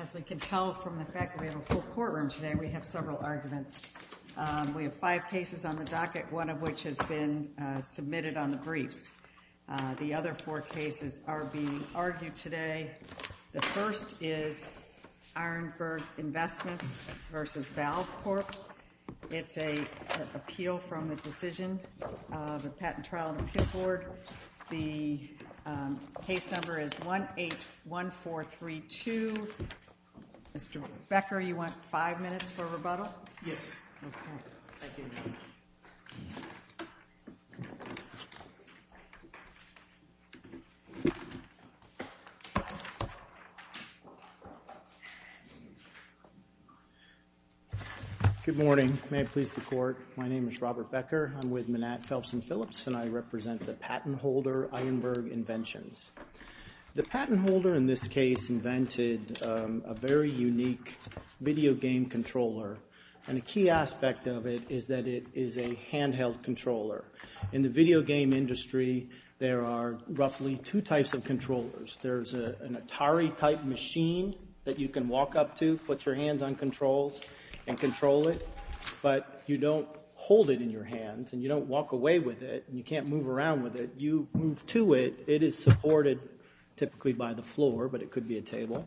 As we can tell from the fact that we have a full courtroom today, we have several arguments. We have five cases on the docket, one of which has been submitted on the briefs. The other four cases are being argued today. The first is Ironburg Investments v. Valve Corp. It's an appeal from the decision of the Patent Trial and Appeal Board. The case number is 181432. Mr. Becker, you want five minutes for rebuttal? Yes. Thank you. Robert Becker Good morning. May it please the Court, my name is Robert Becker. I'm with Manat, Phelps & Phillips, and I represent the patent holder Ironburg Inventions. The patent holder in this case invented a very unique video game controller, and a key aspect of it is that it is a handheld controller. In the video game industry, there are roughly two types of controllers. There's an Atari-type machine that you can walk up to, put your hands on controls, and control it, but you don't hold it in your hands, and you don't walk away with it, and you can't move around with it. You move to it. It is supported typically by the floor, but it could be a table,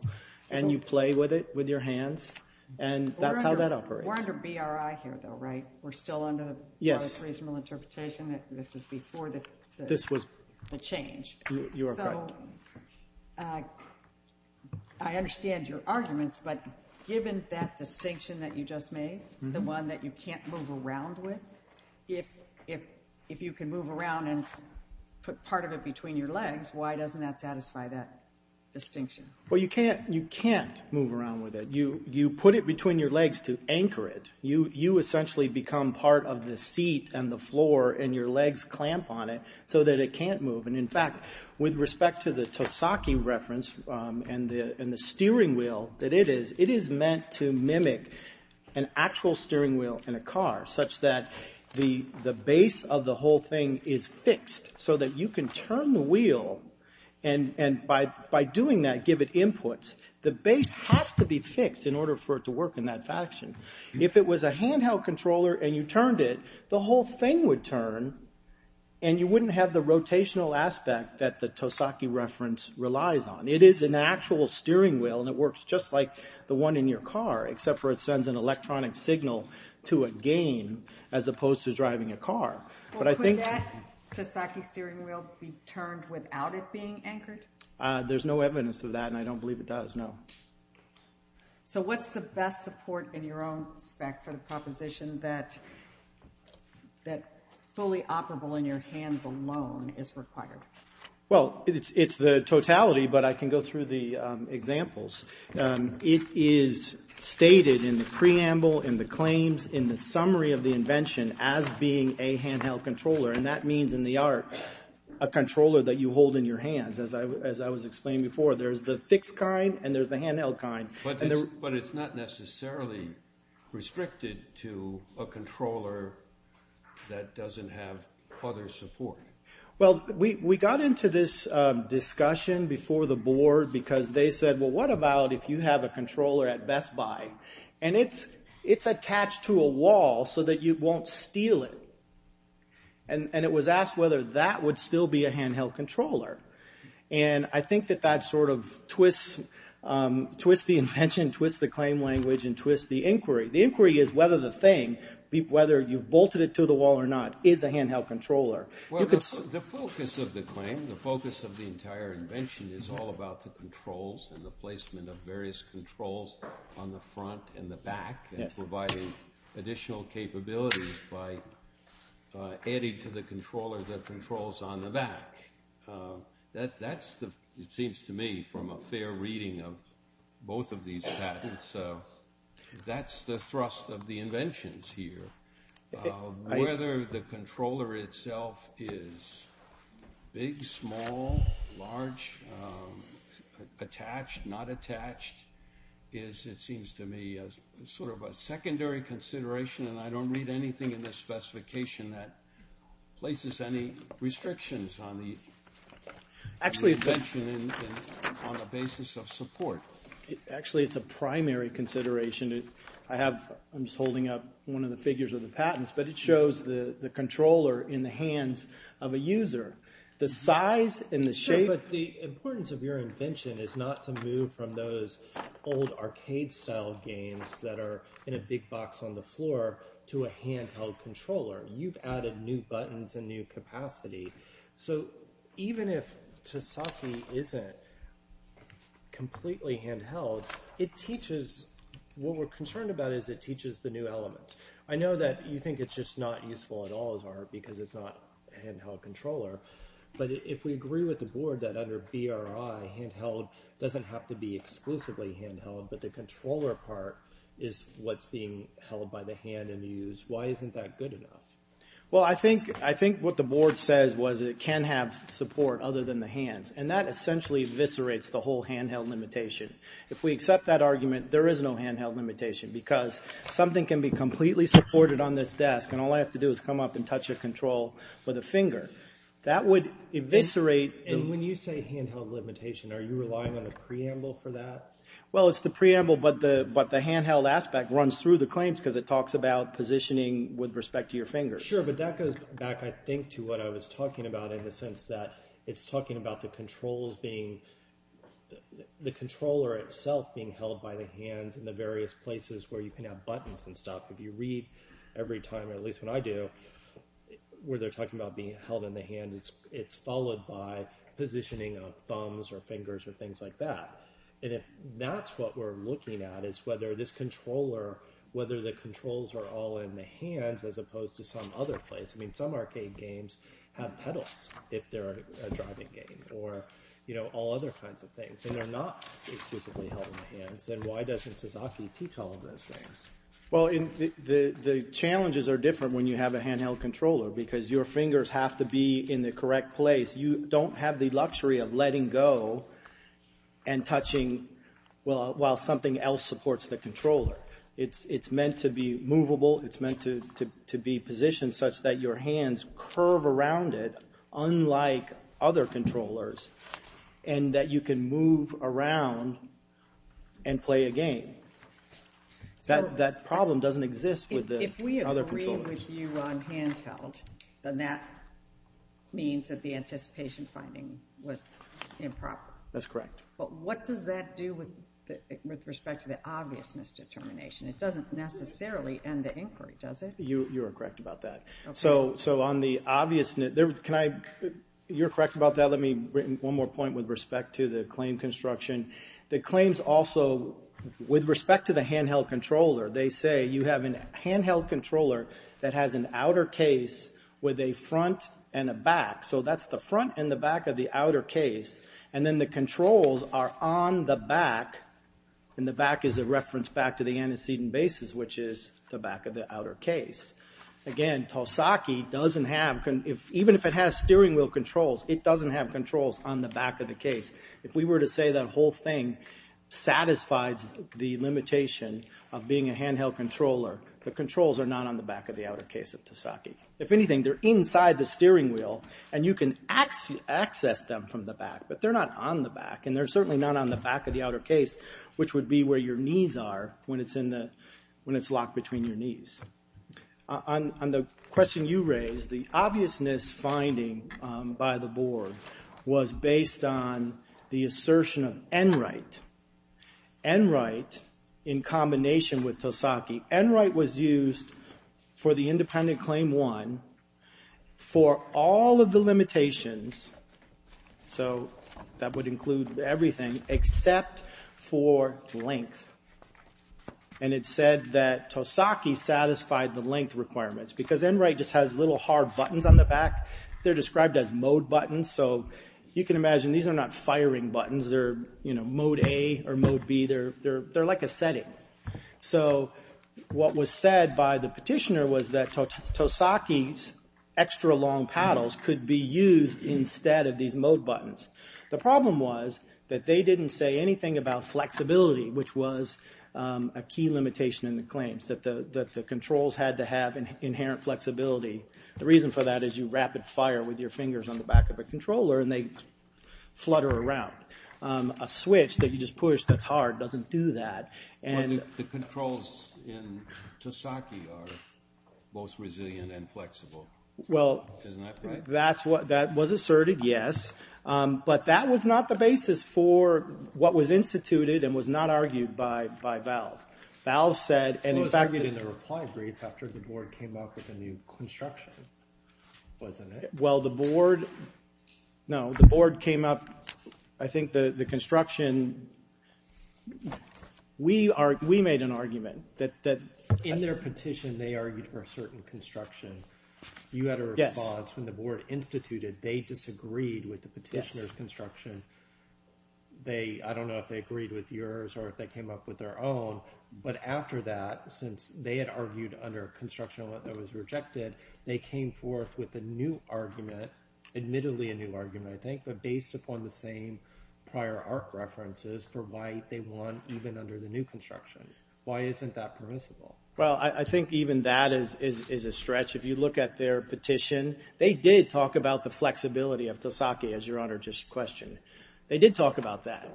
and you play with it with your hands, and that's how that operates. We're under BRI here, though, right? We're still under the reasonable interpretation that this is before the change. You are correct. So I understand your arguments, but given that distinction that you just made, the one that you can't move around with, if you can move around and put part of it between your legs, why doesn't that satisfy that distinction? Well, you can't move around with it. You put it between your legs to anchor it. You essentially become part of the seat and the floor, and your legs clamp on it so that it can't move. In fact, with respect to the Tosaki reference and the steering wheel that it is, it is meant to mimic an actual steering wheel in a car such that the base of the whole thing is fixed so that you can turn the wheel and by doing that give it inputs. The base has to be fixed in order for it to work in that fashion. If it was a handheld controller and you turned it, the whole thing would turn, and you wouldn't have the rotational aspect that the Tosaki reference relies on. It is an actual steering wheel, and it works just like the one in your car, except for it sends an electronic signal to a gain as opposed to driving a car. Well, could that Tosaki steering wheel be turned without it being anchored? There's no evidence of that, and I don't believe it does, no. So what's the best support in your own spec for the proposition that fully operable in your hands alone is required? Well, it's the totality, but I can go through the examples. It is stated in the preamble, in the claims, in the summary of the invention as being a handheld controller, and that means in the art a controller that you hold in your hands, as I was explaining before. There's the fixed kind, and there's the handheld kind. But it's not necessarily restricted to a controller that doesn't have other support. Well, we got into this discussion before the board because they said, well, what about if you have a controller at Best Buy, and it's attached to a wall so that you won't steal it. And it was asked whether that would still be a handheld controller. And I think that that sort of twists the invention, twists the claim language, and twists the inquiry. The inquiry is whether the thing, whether you've bolted it to the wall or not, is a handheld controller. Well, the focus of the claim, the focus of the entire invention, is all about the controls and the placement of various controls on the front and the back and providing additional capabilities by adding to the controller the controls on the back. That's, it seems to me, from a fair reading of both of these patents, that's the thrust of the inventions here. Whether the controller itself is big, small, large, attached, not attached, is, it seems to me, sort of a secondary consideration, and I don't read anything in this specification that places any restrictions on the invention on the basis of support. Actually, it's a primary consideration. I have, I'm just holding up one of the figures of the patents, but it shows the controller in the hands of a user. The size and the shape. Sure, but the importance of your invention is not to move from those old arcade-style games that are in a big box on the floor to a handheld controller. You've added new buttons and new capacity. So even if Tosaki isn't completely handheld, it teaches, what we're concerned about is it teaches the new element. I know that you think it's just not useful at all as art because it's not a handheld controller, but if we agree with the board that under BRI, handheld doesn't have to be exclusively handheld, but the controller part is what's being held by the hand and used, why isn't that good enough? Well, I think what the board says was it can have support other than the hands, and that essentially eviscerates the whole handheld limitation. If we accept that argument, there is no handheld limitation because something can be completely supported on this desk and all I have to do is come up and touch a control with a finger. That would eviscerate. When you say handheld limitation, are you relying on a preamble for that? Well, it's the preamble, but the handheld aspect runs through the claims because it talks about positioning with respect to your fingers. Sure, but that goes back, I think, to what I was talking about in the sense that it's talking about the controls being, the controller itself being held by the hands in the various places where you can have buttons and stuff. If you read every time, or at least when I do, where they're talking about being held in the hand, it's followed by positioning of thumbs or fingers or things like that. If that's what we're looking at is whether this controller, whether the controls are all in the hands as opposed to some other place. Some arcade games have pedals if they're a driving game or all other kinds of things, and they're not exclusively held in the hands. Then why doesn't Sasaki teach all of those things? Well, the challenges are different when you have a handheld controller because your fingers have to be in the correct place. You don't have the luxury of letting go and touching while something else supports the controller. It's meant to be movable, it's meant to be positioned such that your hands curve around it, unlike other controllers, and that you can move around and play a game. That problem doesn't exist with the other controllers. If we agree with you on handheld, then that means that the anticipation finding was improper. That's correct. But what does that do with respect to the obvious misdetermination? It doesn't necessarily end the inquiry, does it? You are correct about that. So on the obviousness, you're correct about that. Let me bring one more point with respect to the claim construction. The claims also, with respect to the handheld controller, they say you have a handheld controller that has an outer case with a front and a back. So that's the front and the back of the outer case, and then the controls are on the back, and the back is a reference back to the antecedent basis, which is the back of the outer case. Again, Tosaki doesn't have, even if it has steering wheel controls, it doesn't have controls on the back of the case. If we were to say that whole thing satisfies the limitation of being a handheld controller, the controls are not on the back of the outer case of Tosaki. If anything, they're inside the steering wheel, and you can access them from the back, but they're not on the back, and they're certainly not on the back of the outer case, which would be where your knees are when it's locked between your knees. On the question you raised, the obviousness finding by the board was based on the assertion of Enright. Enright, in combination with Tosaki, Enright was used for the independent claim one for all of the limitations, so that would include everything, except for length, and it said that Tosaki satisfied the length requirements because Enright just has little hard buttons on the back. They're described as mode buttons, so you can imagine these are not firing buttons. They're mode A or mode B. They're like a setting. What was said by the petitioner was that Tosaki's extra long paddles could be used instead of these mode buttons. The problem was that they didn't say anything about flexibility, which was a key limitation in the claims, that the controls had to have inherent flexibility. The reason for that is you rapid fire with your fingers on the back of a controller, and they flutter around. A switch that you just push that's hard doesn't do that. The controls in Tosaki are both resilient and flexible. Isn't that right? Well, that was asserted, yes, but that was not the basis for what was instituted and was not argued by Valve. It was argued in the reply brief after the board came up with the new construction, wasn't it? Well, the board came up. I think the construction, we made an argument. In their petition, they argued for a certain construction. You had a response when the board instituted. They disagreed with the petitioner's construction. I don't know if they agreed with yours or if they came up with their own, but after that, since they had argued under a construction that was rejected, they came forth with a new argument, admittedly a new argument, I think, but based upon the same prior ARC references for why they won even under the new construction. Why isn't that permissible? Well, I think even that is a stretch. If you look at their petition, they did talk about the flexibility of Tosaki, as Your Honor just questioned. They did talk about that.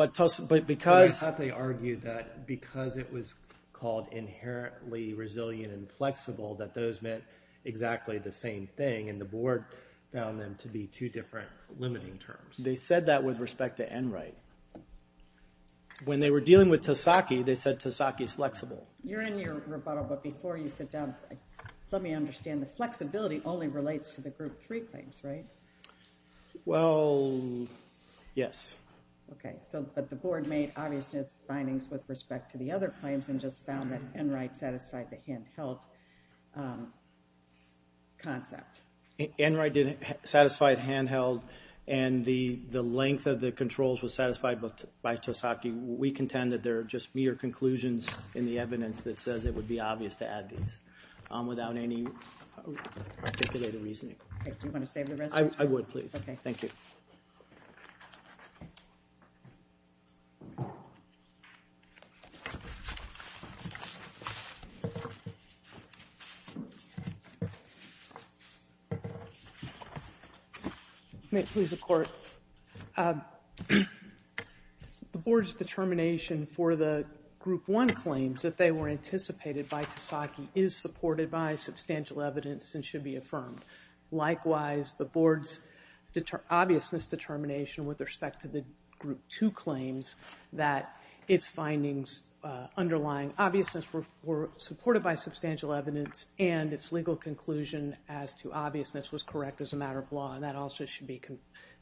I thought they argued that because it was called inherently resilient and flexible that those meant exactly the same thing, and the board found them to be two different limiting terms. They said that with respect to Enright. When they were dealing with Tosaki, they said Tosaki's flexible. You're in your rebuttal, but before you sit down, let me understand. The flexibility only relates to the Group 3 claims, right? Well, yes. Okay, but the board made obvious findings with respect to the other claims and just found that Enright satisfied the handheld concept. Enright satisfied handheld, and the length of the controls was satisfied by Tosaki. We contend that there are just mere conclusions in the evidence that says it would be obvious to add these without any articulated reasoning. Okay, do you want to save the rest? I would, please. Okay. Thank you. May it please the Court? The board's determination for the Group 1 claims that they were anticipated by Tosaki is supported by substantial evidence and should be affirmed. Likewise, the board's obviousness determination with respect to the Group 2 claims that its findings underlying obviousness were supported by substantial evidence and its legal conclusion as to obviousness was correct as a matter of law, and that also should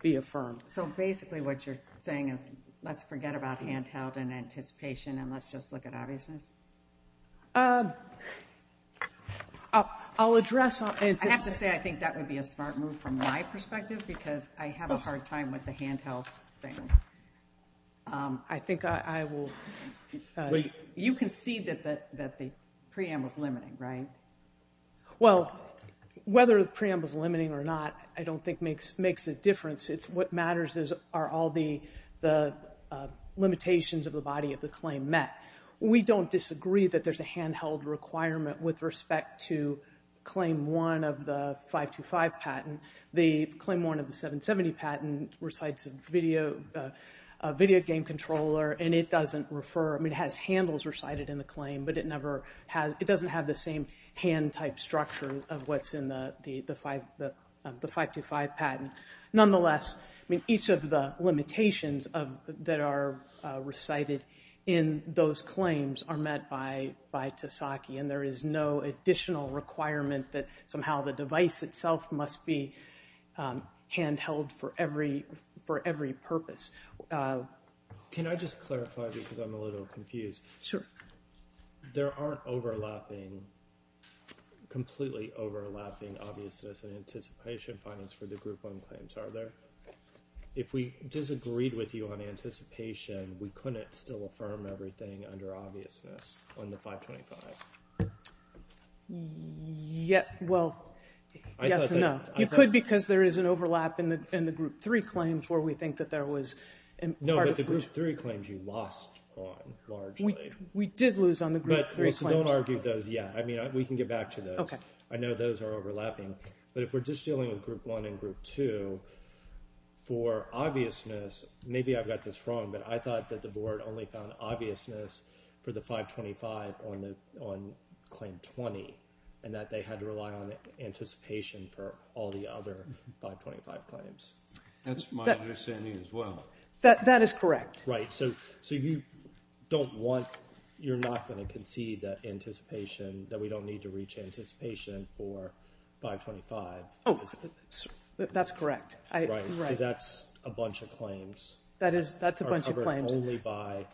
be affirmed. So basically what you're saying is let's forget about handheld and anticipation and let's just look at obviousness? I'll address it. I have to say I think that would be a smart move from my perspective because I have a hard time with the handheld thing. I think I will. You can see that the preamble's limiting, right? Well, whether the preamble's limiting or not, I don't think makes a difference. What matters are all the limitations of the body of the claim met. We don't disagree that there's a handheld requirement with respect to Claim 1 of the 525 patent. The Claim 1 of the 770 patent recites a video game controller and it doesn't refer, I mean it has handles recited in the claim, but it doesn't have the same hand-type structure of what's in the 525 patent. Nonetheless, I mean each of the limitations that are recited in those claims are met by Tesaki, and there is no additional requirement that somehow the device itself must be handheld for every purpose. Can I just clarify because I'm a little confused? Sure. There aren't completely overlapping obviousness and anticipation findings for the Group 1 claims, are there? If we disagreed with you on anticipation, we couldn't still affirm everything under obviousness on the 525? Well, yes and no. You could because there is an overlap in the Group 3 claims where we think that there was part of the group. No, but the Group 3 claims you lost on largely. We did lose on the Group 3 claims. Well, so don't argue those yet. I mean we can get back to those. Okay. I know those are overlapping, but if we're just dealing with Group 1 and Group 2, for obviousness, maybe I've got this wrong, but I thought that the Board only found obviousness for the 525 on Claim 20 and that they had to rely on anticipation for all the other 525 claims. That's my understanding as well. That is correct. Right. So you don't want, you're not going to concede that anticipation, that we don't need to reach anticipation for 525. Oh, that's correct. Right, because that's a bunch of claims. That's a bunch of claims. Only by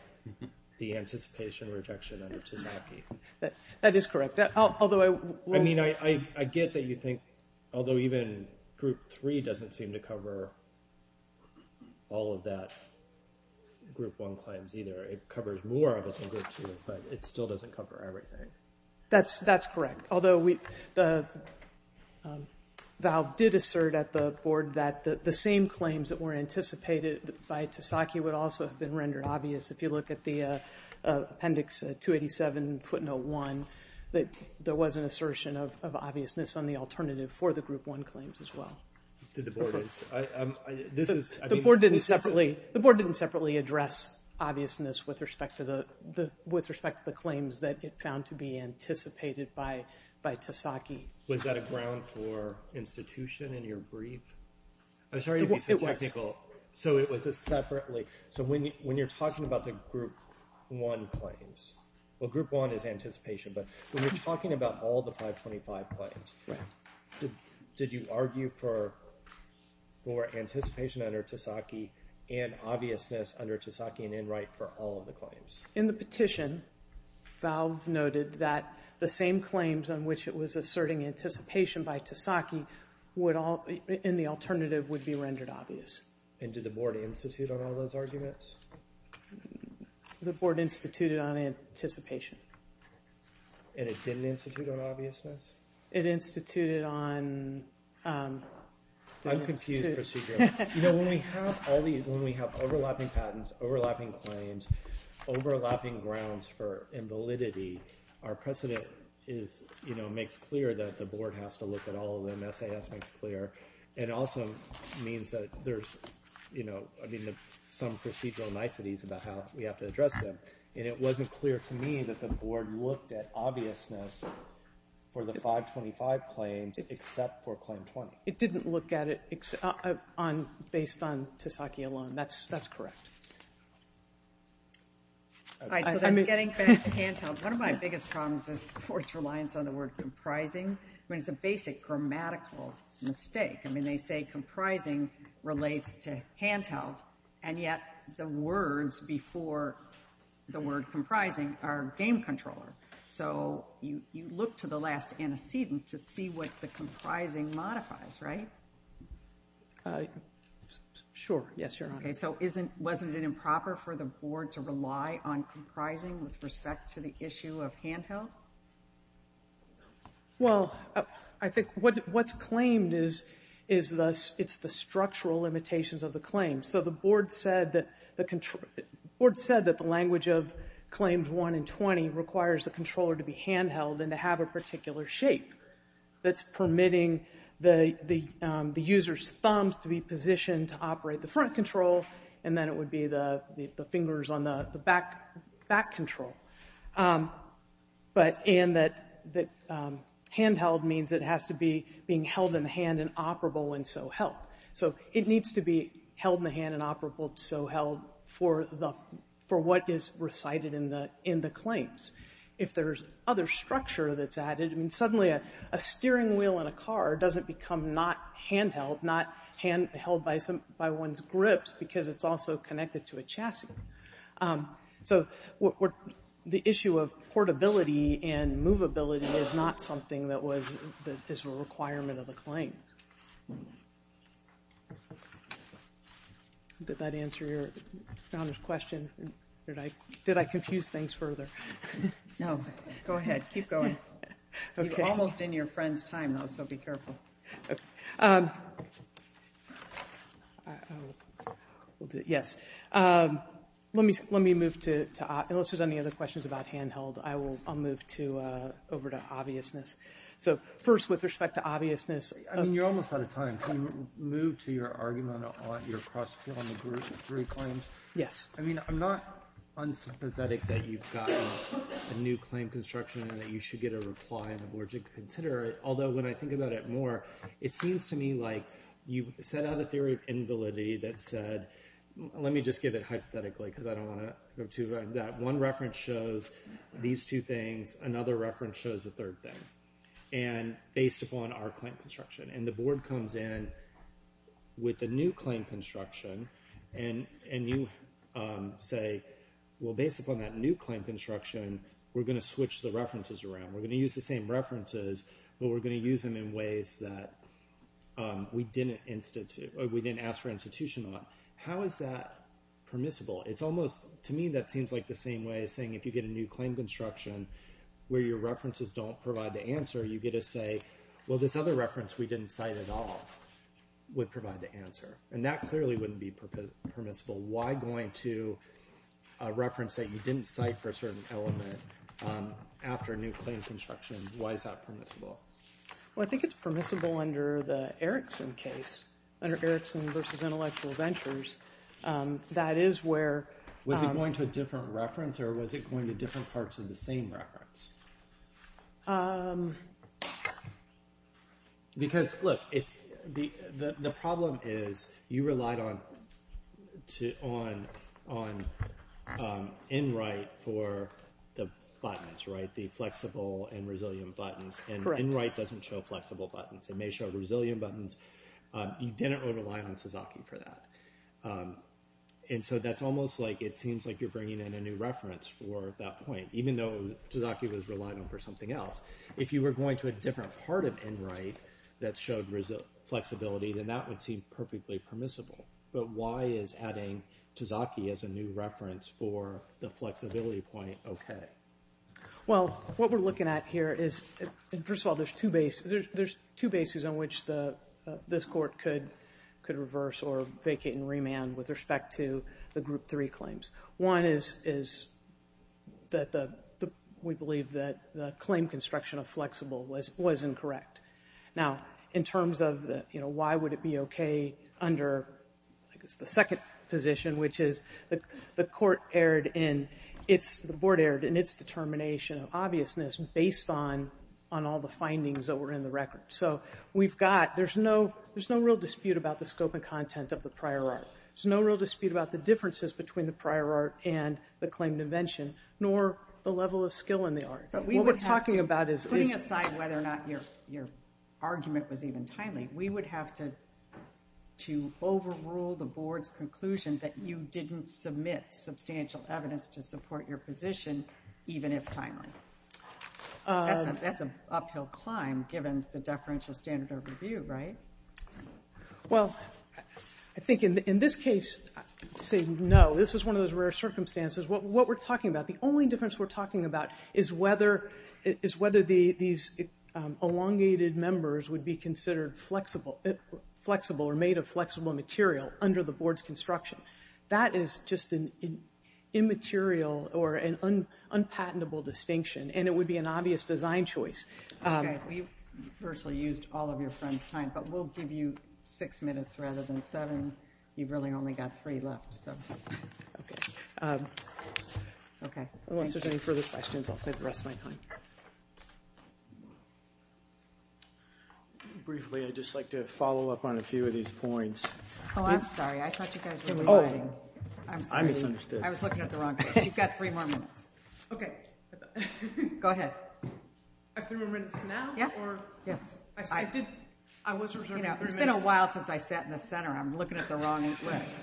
the anticipation rejection under Tesaki. That is correct. I mean, I get that you think, although even Group 3 doesn't seem to cover all of that Group 1 claims either. It covers more of it than Group 2, but it still doesn't cover everything. That's correct, although Valve did assert at the Board that the same claims that were anticipated by Tesaki would also have been rendered obvious. If you look at the Appendix 287.01, that there was an assertion of obviousness on the alternative for the Group 1 claims as well. The Board didn't separately address obviousness with respect to the claims that it found to be anticipated by Tesaki. Was that a ground for institution in your brief? I'm sorry to be so technical. So it was separately. So when you're talking about the Group 1 claims, well, Group 1 is anticipation, but when you're talking about all the 525 claims, did you argue for more anticipation under Tesaki and obviousness under Tesaki and Enright for all of the claims? In the petition, Valve noted that the same claims on which it was asserting anticipation by Tesaki in the alternative would be rendered obvious. And did the Board institute on all those arguments? The Board instituted on anticipation. And it didn't institute on obviousness? It instituted on... Uncomputed procedure. You know, when we have overlapping patents, overlapping claims, overlapping grounds for invalidity, our precedent is, you know, makes clear that the Board has to look at all of them, SAS makes clear, and also means that there's, you know, some procedural niceties about how we have to address them. And it wasn't clear to me that the Board looked at obviousness for the 525 claims except for Claim 20. It didn't look at it based on Tesaki alone. That's correct. All right, so that's getting back to hand-held. One of my biggest problems is the Board's reliance on the word comprising. I mean, it's a basic grammatical mistake. I mean, they say comprising relates to hand-held, and yet the words before the word comprising are game controller. So you look to the last antecedent to see what the comprising modifies, right? Sure, yes, Your Honor. Okay, so wasn't it improper for the Board to rely on comprising with respect to the issue of hand-held? Well, I think what's claimed is the structural limitations of the claim. So the Board said that the language of Claims 1 and 20 requires the controller to be hand-held and to have a particular shape that's permitting the user's thumbs to be positioned to operate the front control, and then it would be the fingers on the back control. But hand-held means it has to be being held in the hand and operable and so held. So it needs to be held in the hand and operable and so held for what is recited in the claims. If there's other structure that's added, I mean, suddenly a steering wheel in a car doesn't become not hand-held, not held by one's grips because it's also connected to a chassis. So the issue of portability and movability is not something that is a requirement of the claim. Did that answer Your Honor's question? Did I confuse things further? No, go ahead. Keep going. You're almost in your friend's time, though, so be careful. Yes. Let me move to, unless there's any other questions about hand-held, I'll move over to obviousness. So first, with respect to obviousness. I mean, you're almost out of time. Can you move to your argument on your cross-field on the three claims? Yes. I mean, I'm not unsympathetic that you've gotten a new claim construction and that you should get a reply on the board to consider it. Although, when I think about it more, it seems to me like you set out a theory of invalidity that said, let me just give it hypothetically because I don't want to go too far into that. One reference shows these two things. Another reference shows the third thing, based upon our claim construction. And the board comes in with a new claim construction, and you say, well, based upon that new claim construction, we're going to switch the references around. We're going to use the same references, but we're going to use them in ways that we didn't ask for institution on. How is that permissible? To me, that seems like the same way as saying if you get a new claim construction where your references don't provide the answer, you get to say, well, this other reference we didn't cite at all would provide the answer. And that clearly wouldn't be permissible. Why going to a reference that you didn't cite for a certain element after a new claim construction? Why is that permissible? Well, I think it's permissible under the Erickson case, under Erickson versus Intellectual Ventures. That is where— Was it going to a different reference, or was it going to different parts of the same reference? Because, look, the problem is you relied on Enright for the buttons, right? The flexible and resilient buttons. Correct. And Enright doesn't show flexible buttons. It may show resilient buttons. You didn't rely on Sasaki for that. And so that's almost like it seems like you're bringing in a new reference for that point, even though Sasaki was relying on for something else. If you were going to a different part of Enright that showed flexibility, then that would seem perfectly permissible. But why is adding Sasaki as a new reference for the flexibility point okay? Well, what we're looking at here is, first of all, there's two bases on which this Court could reverse or vacate and remand with respect to the Group 3 claims. One is that we believe that the claim construction of flexible was incorrect. Now, in terms of why would it be okay under the second position, which is the Court erred in—the Board erred in its determination of obviousness based on all the findings that were in the record. So we've got—there's no real dispute about the scope and content of the prior art. There's no real dispute about the differences between the prior art and the claimed invention, nor the level of skill in the art. What we're talking about is— Putting aside whether or not your argument was even timely, we would have to overrule the Board's conclusion that you didn't submit substantial evidence to support your position, even if timely. That's an uphill climb, given the deferential standard of review, right? Well, I think in this case, I'd say no. This is one of those rare circumstances. What we're talking about, the only difference we're talking about, is whether these elongated members would be considered flexible or made of flexible material under the Board's construction. That is just an immaterial or an unpatentable distinction, and it would be an obvious design choice. Okay. Well, you virtually used all of your friends' time, but we'll give you six minutes rather than seven. You've really only got three left, so— Okay. Okay. Thank you. Unless there's any further questions, I'll save the rest of my time. Briefly, I'd just like to follow up on a few of these points. Oh, I'm sorry. I thought you guys were rewriting. Oh. I'm sorry. I misunderstood. I was looking at the wrong page. You've got three more minutes. Okay. Go ahead. I have three more minutes now? Yeah. Yes. I was reserving three minutes. It's been a while since I sat in the center. I'm looking at the wrong list.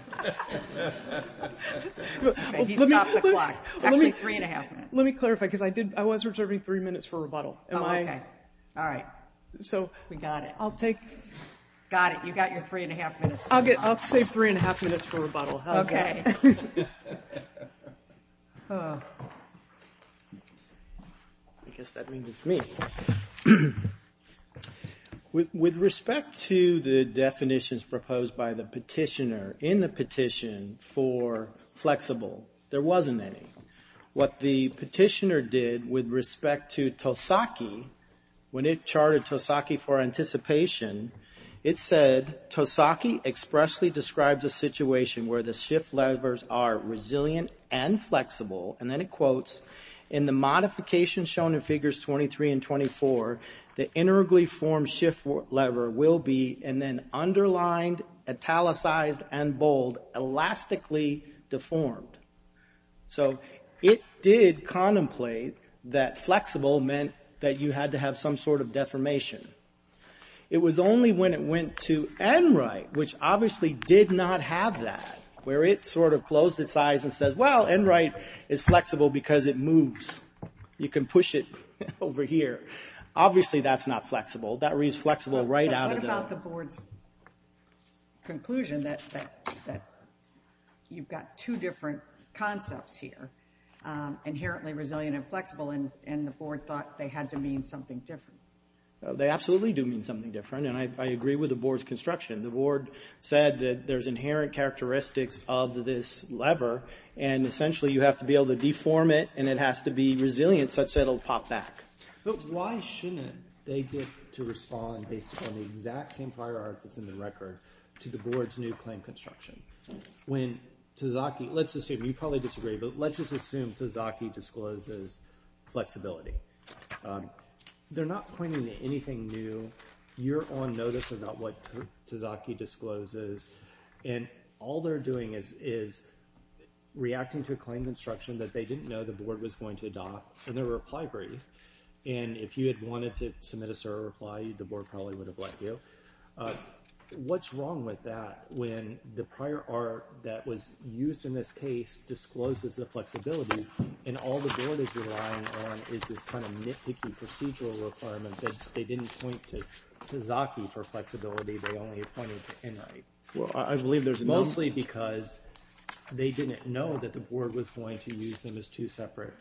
He stopped the clock. Actually, three and a half minutes. Let me clarify, because I was reserving three minutes for rebuttal. Oh, okay. All right. We got it. I'll take— Got it. You got your three and a half minutes. I'll save three and a half minutes for rebuttal. How's that? Okay. I guess that means it's me. With respect to the definitions proposed by the petitioner in the petition for flexible, there wasn't any. What the petitioner did with respect to Tosaki, when it charted Tosaki for anticipation, it said, Tosaki expressly describes a situation where the shift levers are resilient and flexible. Then it quotes, in the modification shown in figures 23 and 24, the integrally formed shift lever will be, and then underlined, italicized, and bold, elastically deformed. It did contemplate that flexible meant that you had to have some sort of deformation. It was only when it went to Enright, which obviously did not have that, where it sort of closed its eyes and said, well, Enright is flexible because it moves. You can push it over here. Obviously, that's not flexible. That reads flexible right out of the— What about the board's conclusion that you've got two different concepts here, inherently resilient and flexible, and the board thought they had to mean something different? They absolutely do mean something different, and I agree with the board's construction. The board said that there's inherent characteristics of this lever, and essentially, you have to be able to deform it, and it has to be resilient such that it'll pop back. But why shouldn't they get to respond based on the exact same prior art that's in the record to the board's new claim construction? When Tosaki, let's assume, you probably disagree, but let's just assume Tosaki discloses flexibility. They're not pointing to anything new. You're on notice about what Tosaki discloses, and all they're doing is reacting to a claim construction that they didn't know the board was going to adopt, and their reply brief. And if you had wanted to submit a SORA reply, the board probably would have let you. What's wrong with that when the prior art that was used in this case discloses the flexibility, and all the board is relying on is this kind of nitpicky procedural requirement that they didn't point to Tosaki for flexibility. They only pointed to Enright. Well, I believe there's mostly because they didn't know that the board was going to use them as two separate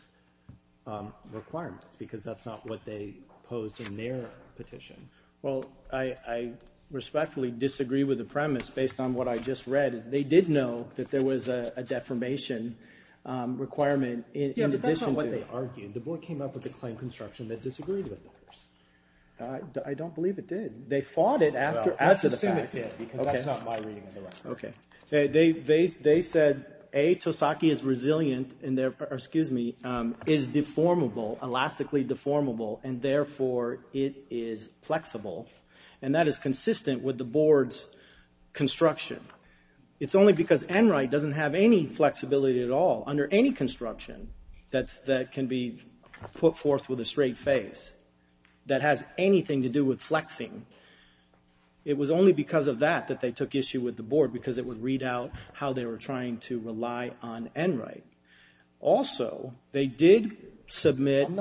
requirements because that's not what they posed in their petition. Well, I respectfully disagree with the premise based on what I just read. They did know that there was a deformation requirement in addition to... Yeah, but that's not what they argued. The board came up with a claim construction that disagreed with the first. I don't believe it did. They fought it after the fact. Well, let's assume it did because that's not my reading of the record. Okay. They said, A, Tosaki is resilient, and therefore, excuse me, is deformable, elastically deformable, and therefore, it is flexible, and that is consistent with the board's construction. It's only because Enright doesn't have any flexibility at all under any construction that can be put forth with a straight face that has anything to do with flexing. It was only because of that that they took issue with the board because it would read out how they were trying to rely on Enright. Also, they did submit... It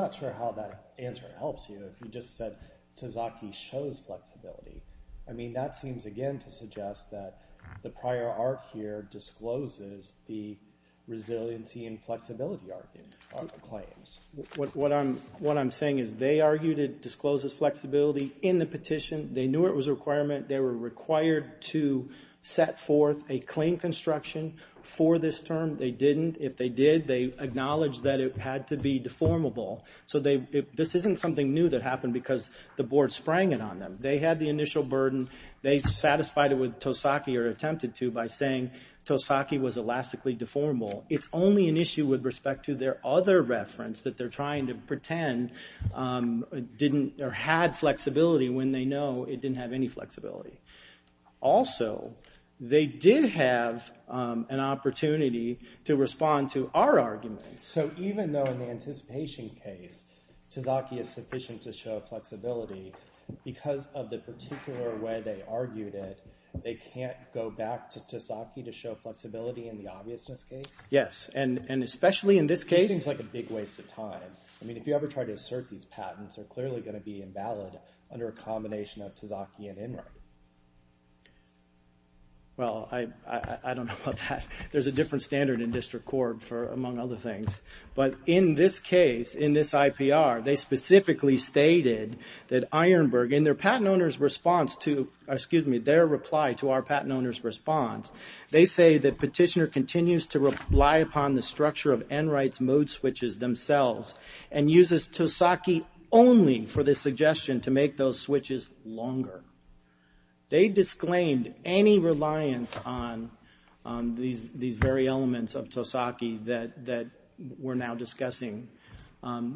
helps you if you just said, Tosaki shows flexibility. I mean, that seems, again, to suggest that the prior arc here discloses the resiliency and flexibility arc in claims. What I'm saying is they argued it discloses flexibility in the petition. They knew it was a requirement. They were required to set forth a claim construction for this term. They didn't. If they did, they acknowledged that it had to be deformable. So this isn't something new that happened because the board sprang it on them. They had the initial burden. They satisfied it with Tosaki or attempted to by saying Tosaki was elastically deformable. It's only an issue with respect to their other reference that they're trying to pretend didn't or had flexibility when they know it didn't have any flexibility. Also, they did have an opportunity to respond to our argument. So even though in the anticipation case, Tosaki is sufficient to show flexibility, because of the particular way they argued it, they can't go back to Tosaki to show flexibility in the obviousness case? Yes, and especially in this case. This seems like a big waste of time. I mean, if you ever try to assert these patents, they're clearly going to be invalid under a combination of Tosaki and Enright. Well, I don't know about that. There's a different standard in district court for among other things. But in this case, in this IPR, they specifically stated that Ironburg, in their patent owner's response to, excuse me, their reply to our patent owner's response, they say that Petitioner continues to rely upon the structure of Enright's mode switches themselves and uses Tosaki only for this suggestion to make those switches longer. They disclaimed any reliance on these very elements of Tosaki that we're now discussing.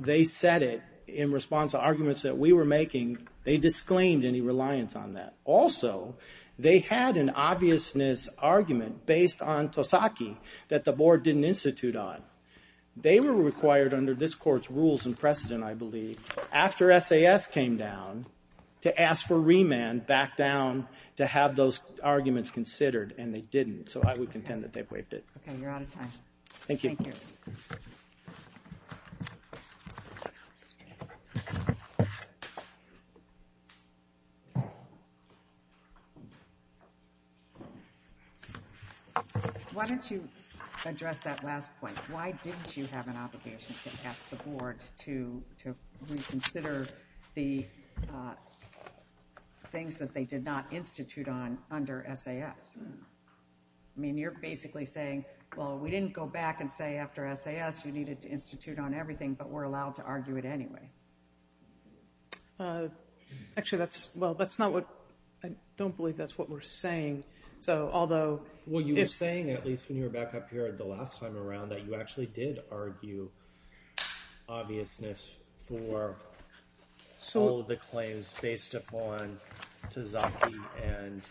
They said it in response to arguments that we were making. They disclaimed any reliance on that. Also, they had an obviousness argument based on Tosaki that the board didn't institute on. They were required under this court's rules and precedent, I believe, after SAS came down to ask for remand back down to have those arguments considered, and they didn't. So I would contend that they waived it. Okay, you're out of time. Thank you. Thank you. Why don't you address that last point? Why didn't you have an obligation to ask the board to reconsider the things that they did not institute on under SAS? I mean, you're basically saying, well, we didn't go back and say after SAS you needed to institute on everything, but we're allowed to argue it anyway. Actually, that's not what – I don't believe that's what we're saying. Well, you were saying, at least when you were back up here the last time around, that you actually did argue obviousness for all of the claims based upon Tosaki and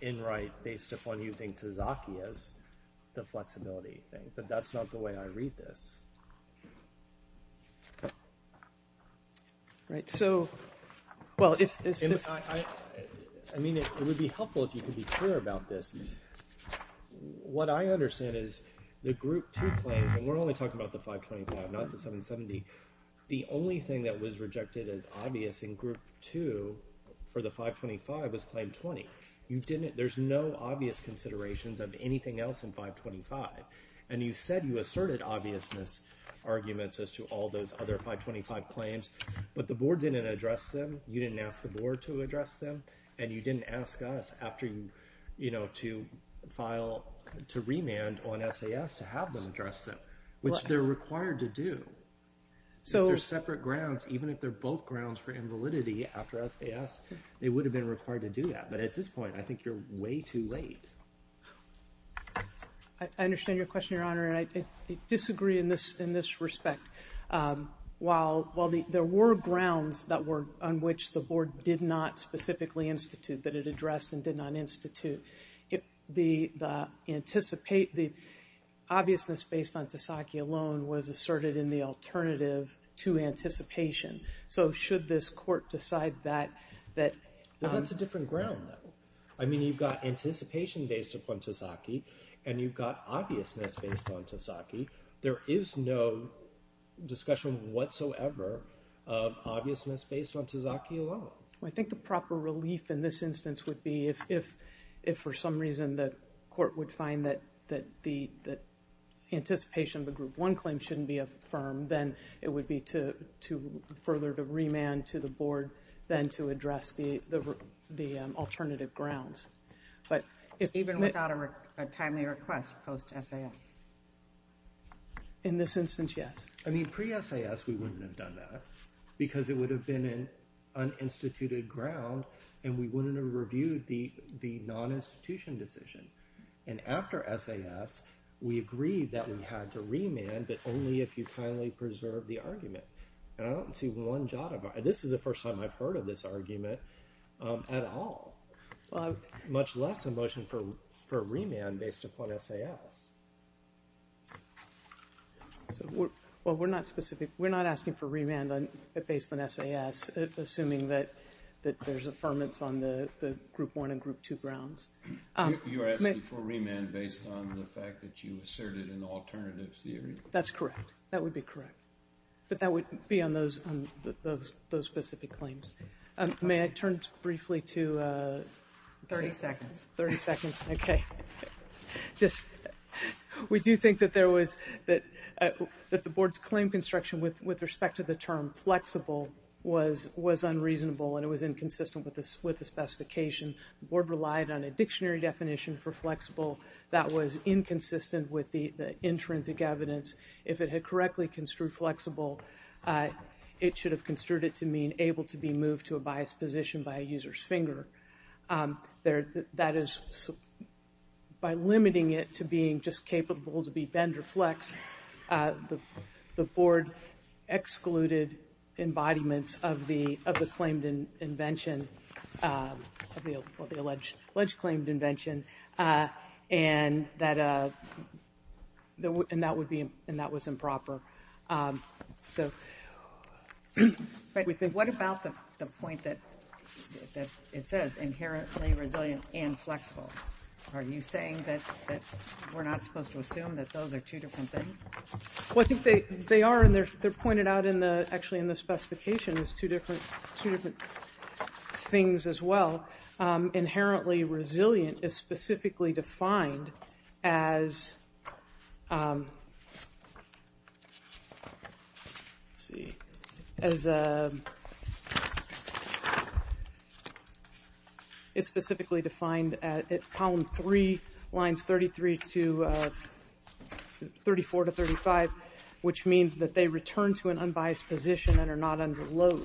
in right based upon using Tosaki as the flexibility thing, but that's not the way I read this. Right, so – well, if this – I mean, it would be helpful if you could be clear about this. What I understand is the Group 2 claim, and we're only talking about the 525, not the 770. The only thing that was rejected as obvious in Group 2 for the 525 was Claim 20. You didn't – there's no obvious considerations of anything else in 525, and you said you asserted obviousness arguments as to all those other 525 claims, but the board didn't address them. You didn't ask the board to address them, and you didn't ask us after you – to file – to remand on SAS to have them address them, which they're required to do. If they're separate grounds, even if they're both grounds for invalidity after SAS, they would have been required to do that, but at this point, I think you're way too late. I understand your question, Your Honor, and I disagree in this respect. While there were grounds that were – on which the board did not specifically institute, that it addressed and did not institute, the obviousness based on Tasaki alone was asserted in the alternative to anticipation. So should this court decide that – Well, that's a different ground, though. I mean, you've got anticipation based upon Tasaki, and you've got obviousness based on Tasaki. There is no discussion whatsoever of obviousness based on Tasaki alone. I think the proper relief in this instance would be if, for some reason, the court would find that the anticipation of the Group 1 claim shouldn't be affirmed, then it would be to further the remand to the board then to address the alternative grounds. Even without a timely request post-SAS? In this instance, yes. I mean, pre-SAS, we wouldn't have done that because it would have been an uninstituted ground, and we wouldn't have reviewed the non-institution decision. And after SAS, we agreed that we had to remand, but only if you timely preserve the argument. And I don't see one jot of – this is the first time I've heard of this argument at all, much less a motion for remand based upon SAS. Well, we're not specific. We're not asking for remand based on SAS, assuming that there's affirmance on the Group 1 and Group 2 grounds. You're asking for remand based on the fact that you asserted an alternative theory? That's correct. That would be correct. But that would be on those specific claims. May I turn briefly to – 30 seconds. 30 seconds. Okay. Just – we do think that there was – that the Board's claim construction with respect to the term flexible was unreasonable, and it was inconsistent with the specification. The Board relied on a dictionary definition for flexible that was inconsistent with the intrinsic evidence. If it had correctly construed flexible, it should have construed it to mean able to be moved to a biased position by a user's finger. That is, by limiting it to being just capable to be bend or flex, the Board excluded embodiments of the claimed invention, of the alleged claimed invention, and that would be – and that was improper. So – What about the point that it says inherently resilient and flexible? Are you saying that we're not supposed to assume that those are two different things? Well, I think they are, and they're pointed out in the – actually in the specification as two different things as well. Inherently resilient is specifically defined as – let's see – is specifically defined at column three, lines 33 to – 34 to 35, which means that they return to an unbiased position and are not under load.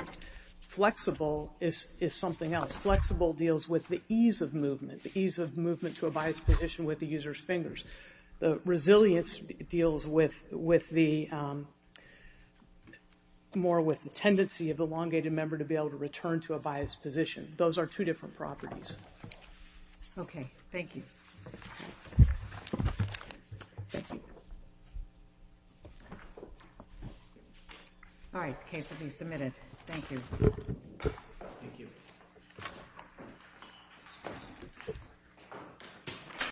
Flexible is something else. Flexible deals with the ease of movement, the ease of movement to a biased position with the user's fingers. Resilience deals with the – more with the tendency of the elongated member to be able to return to a biased position. Those are two different properties. Okay. Thank you. All right. The case will be submitted. Thank you. Thank you.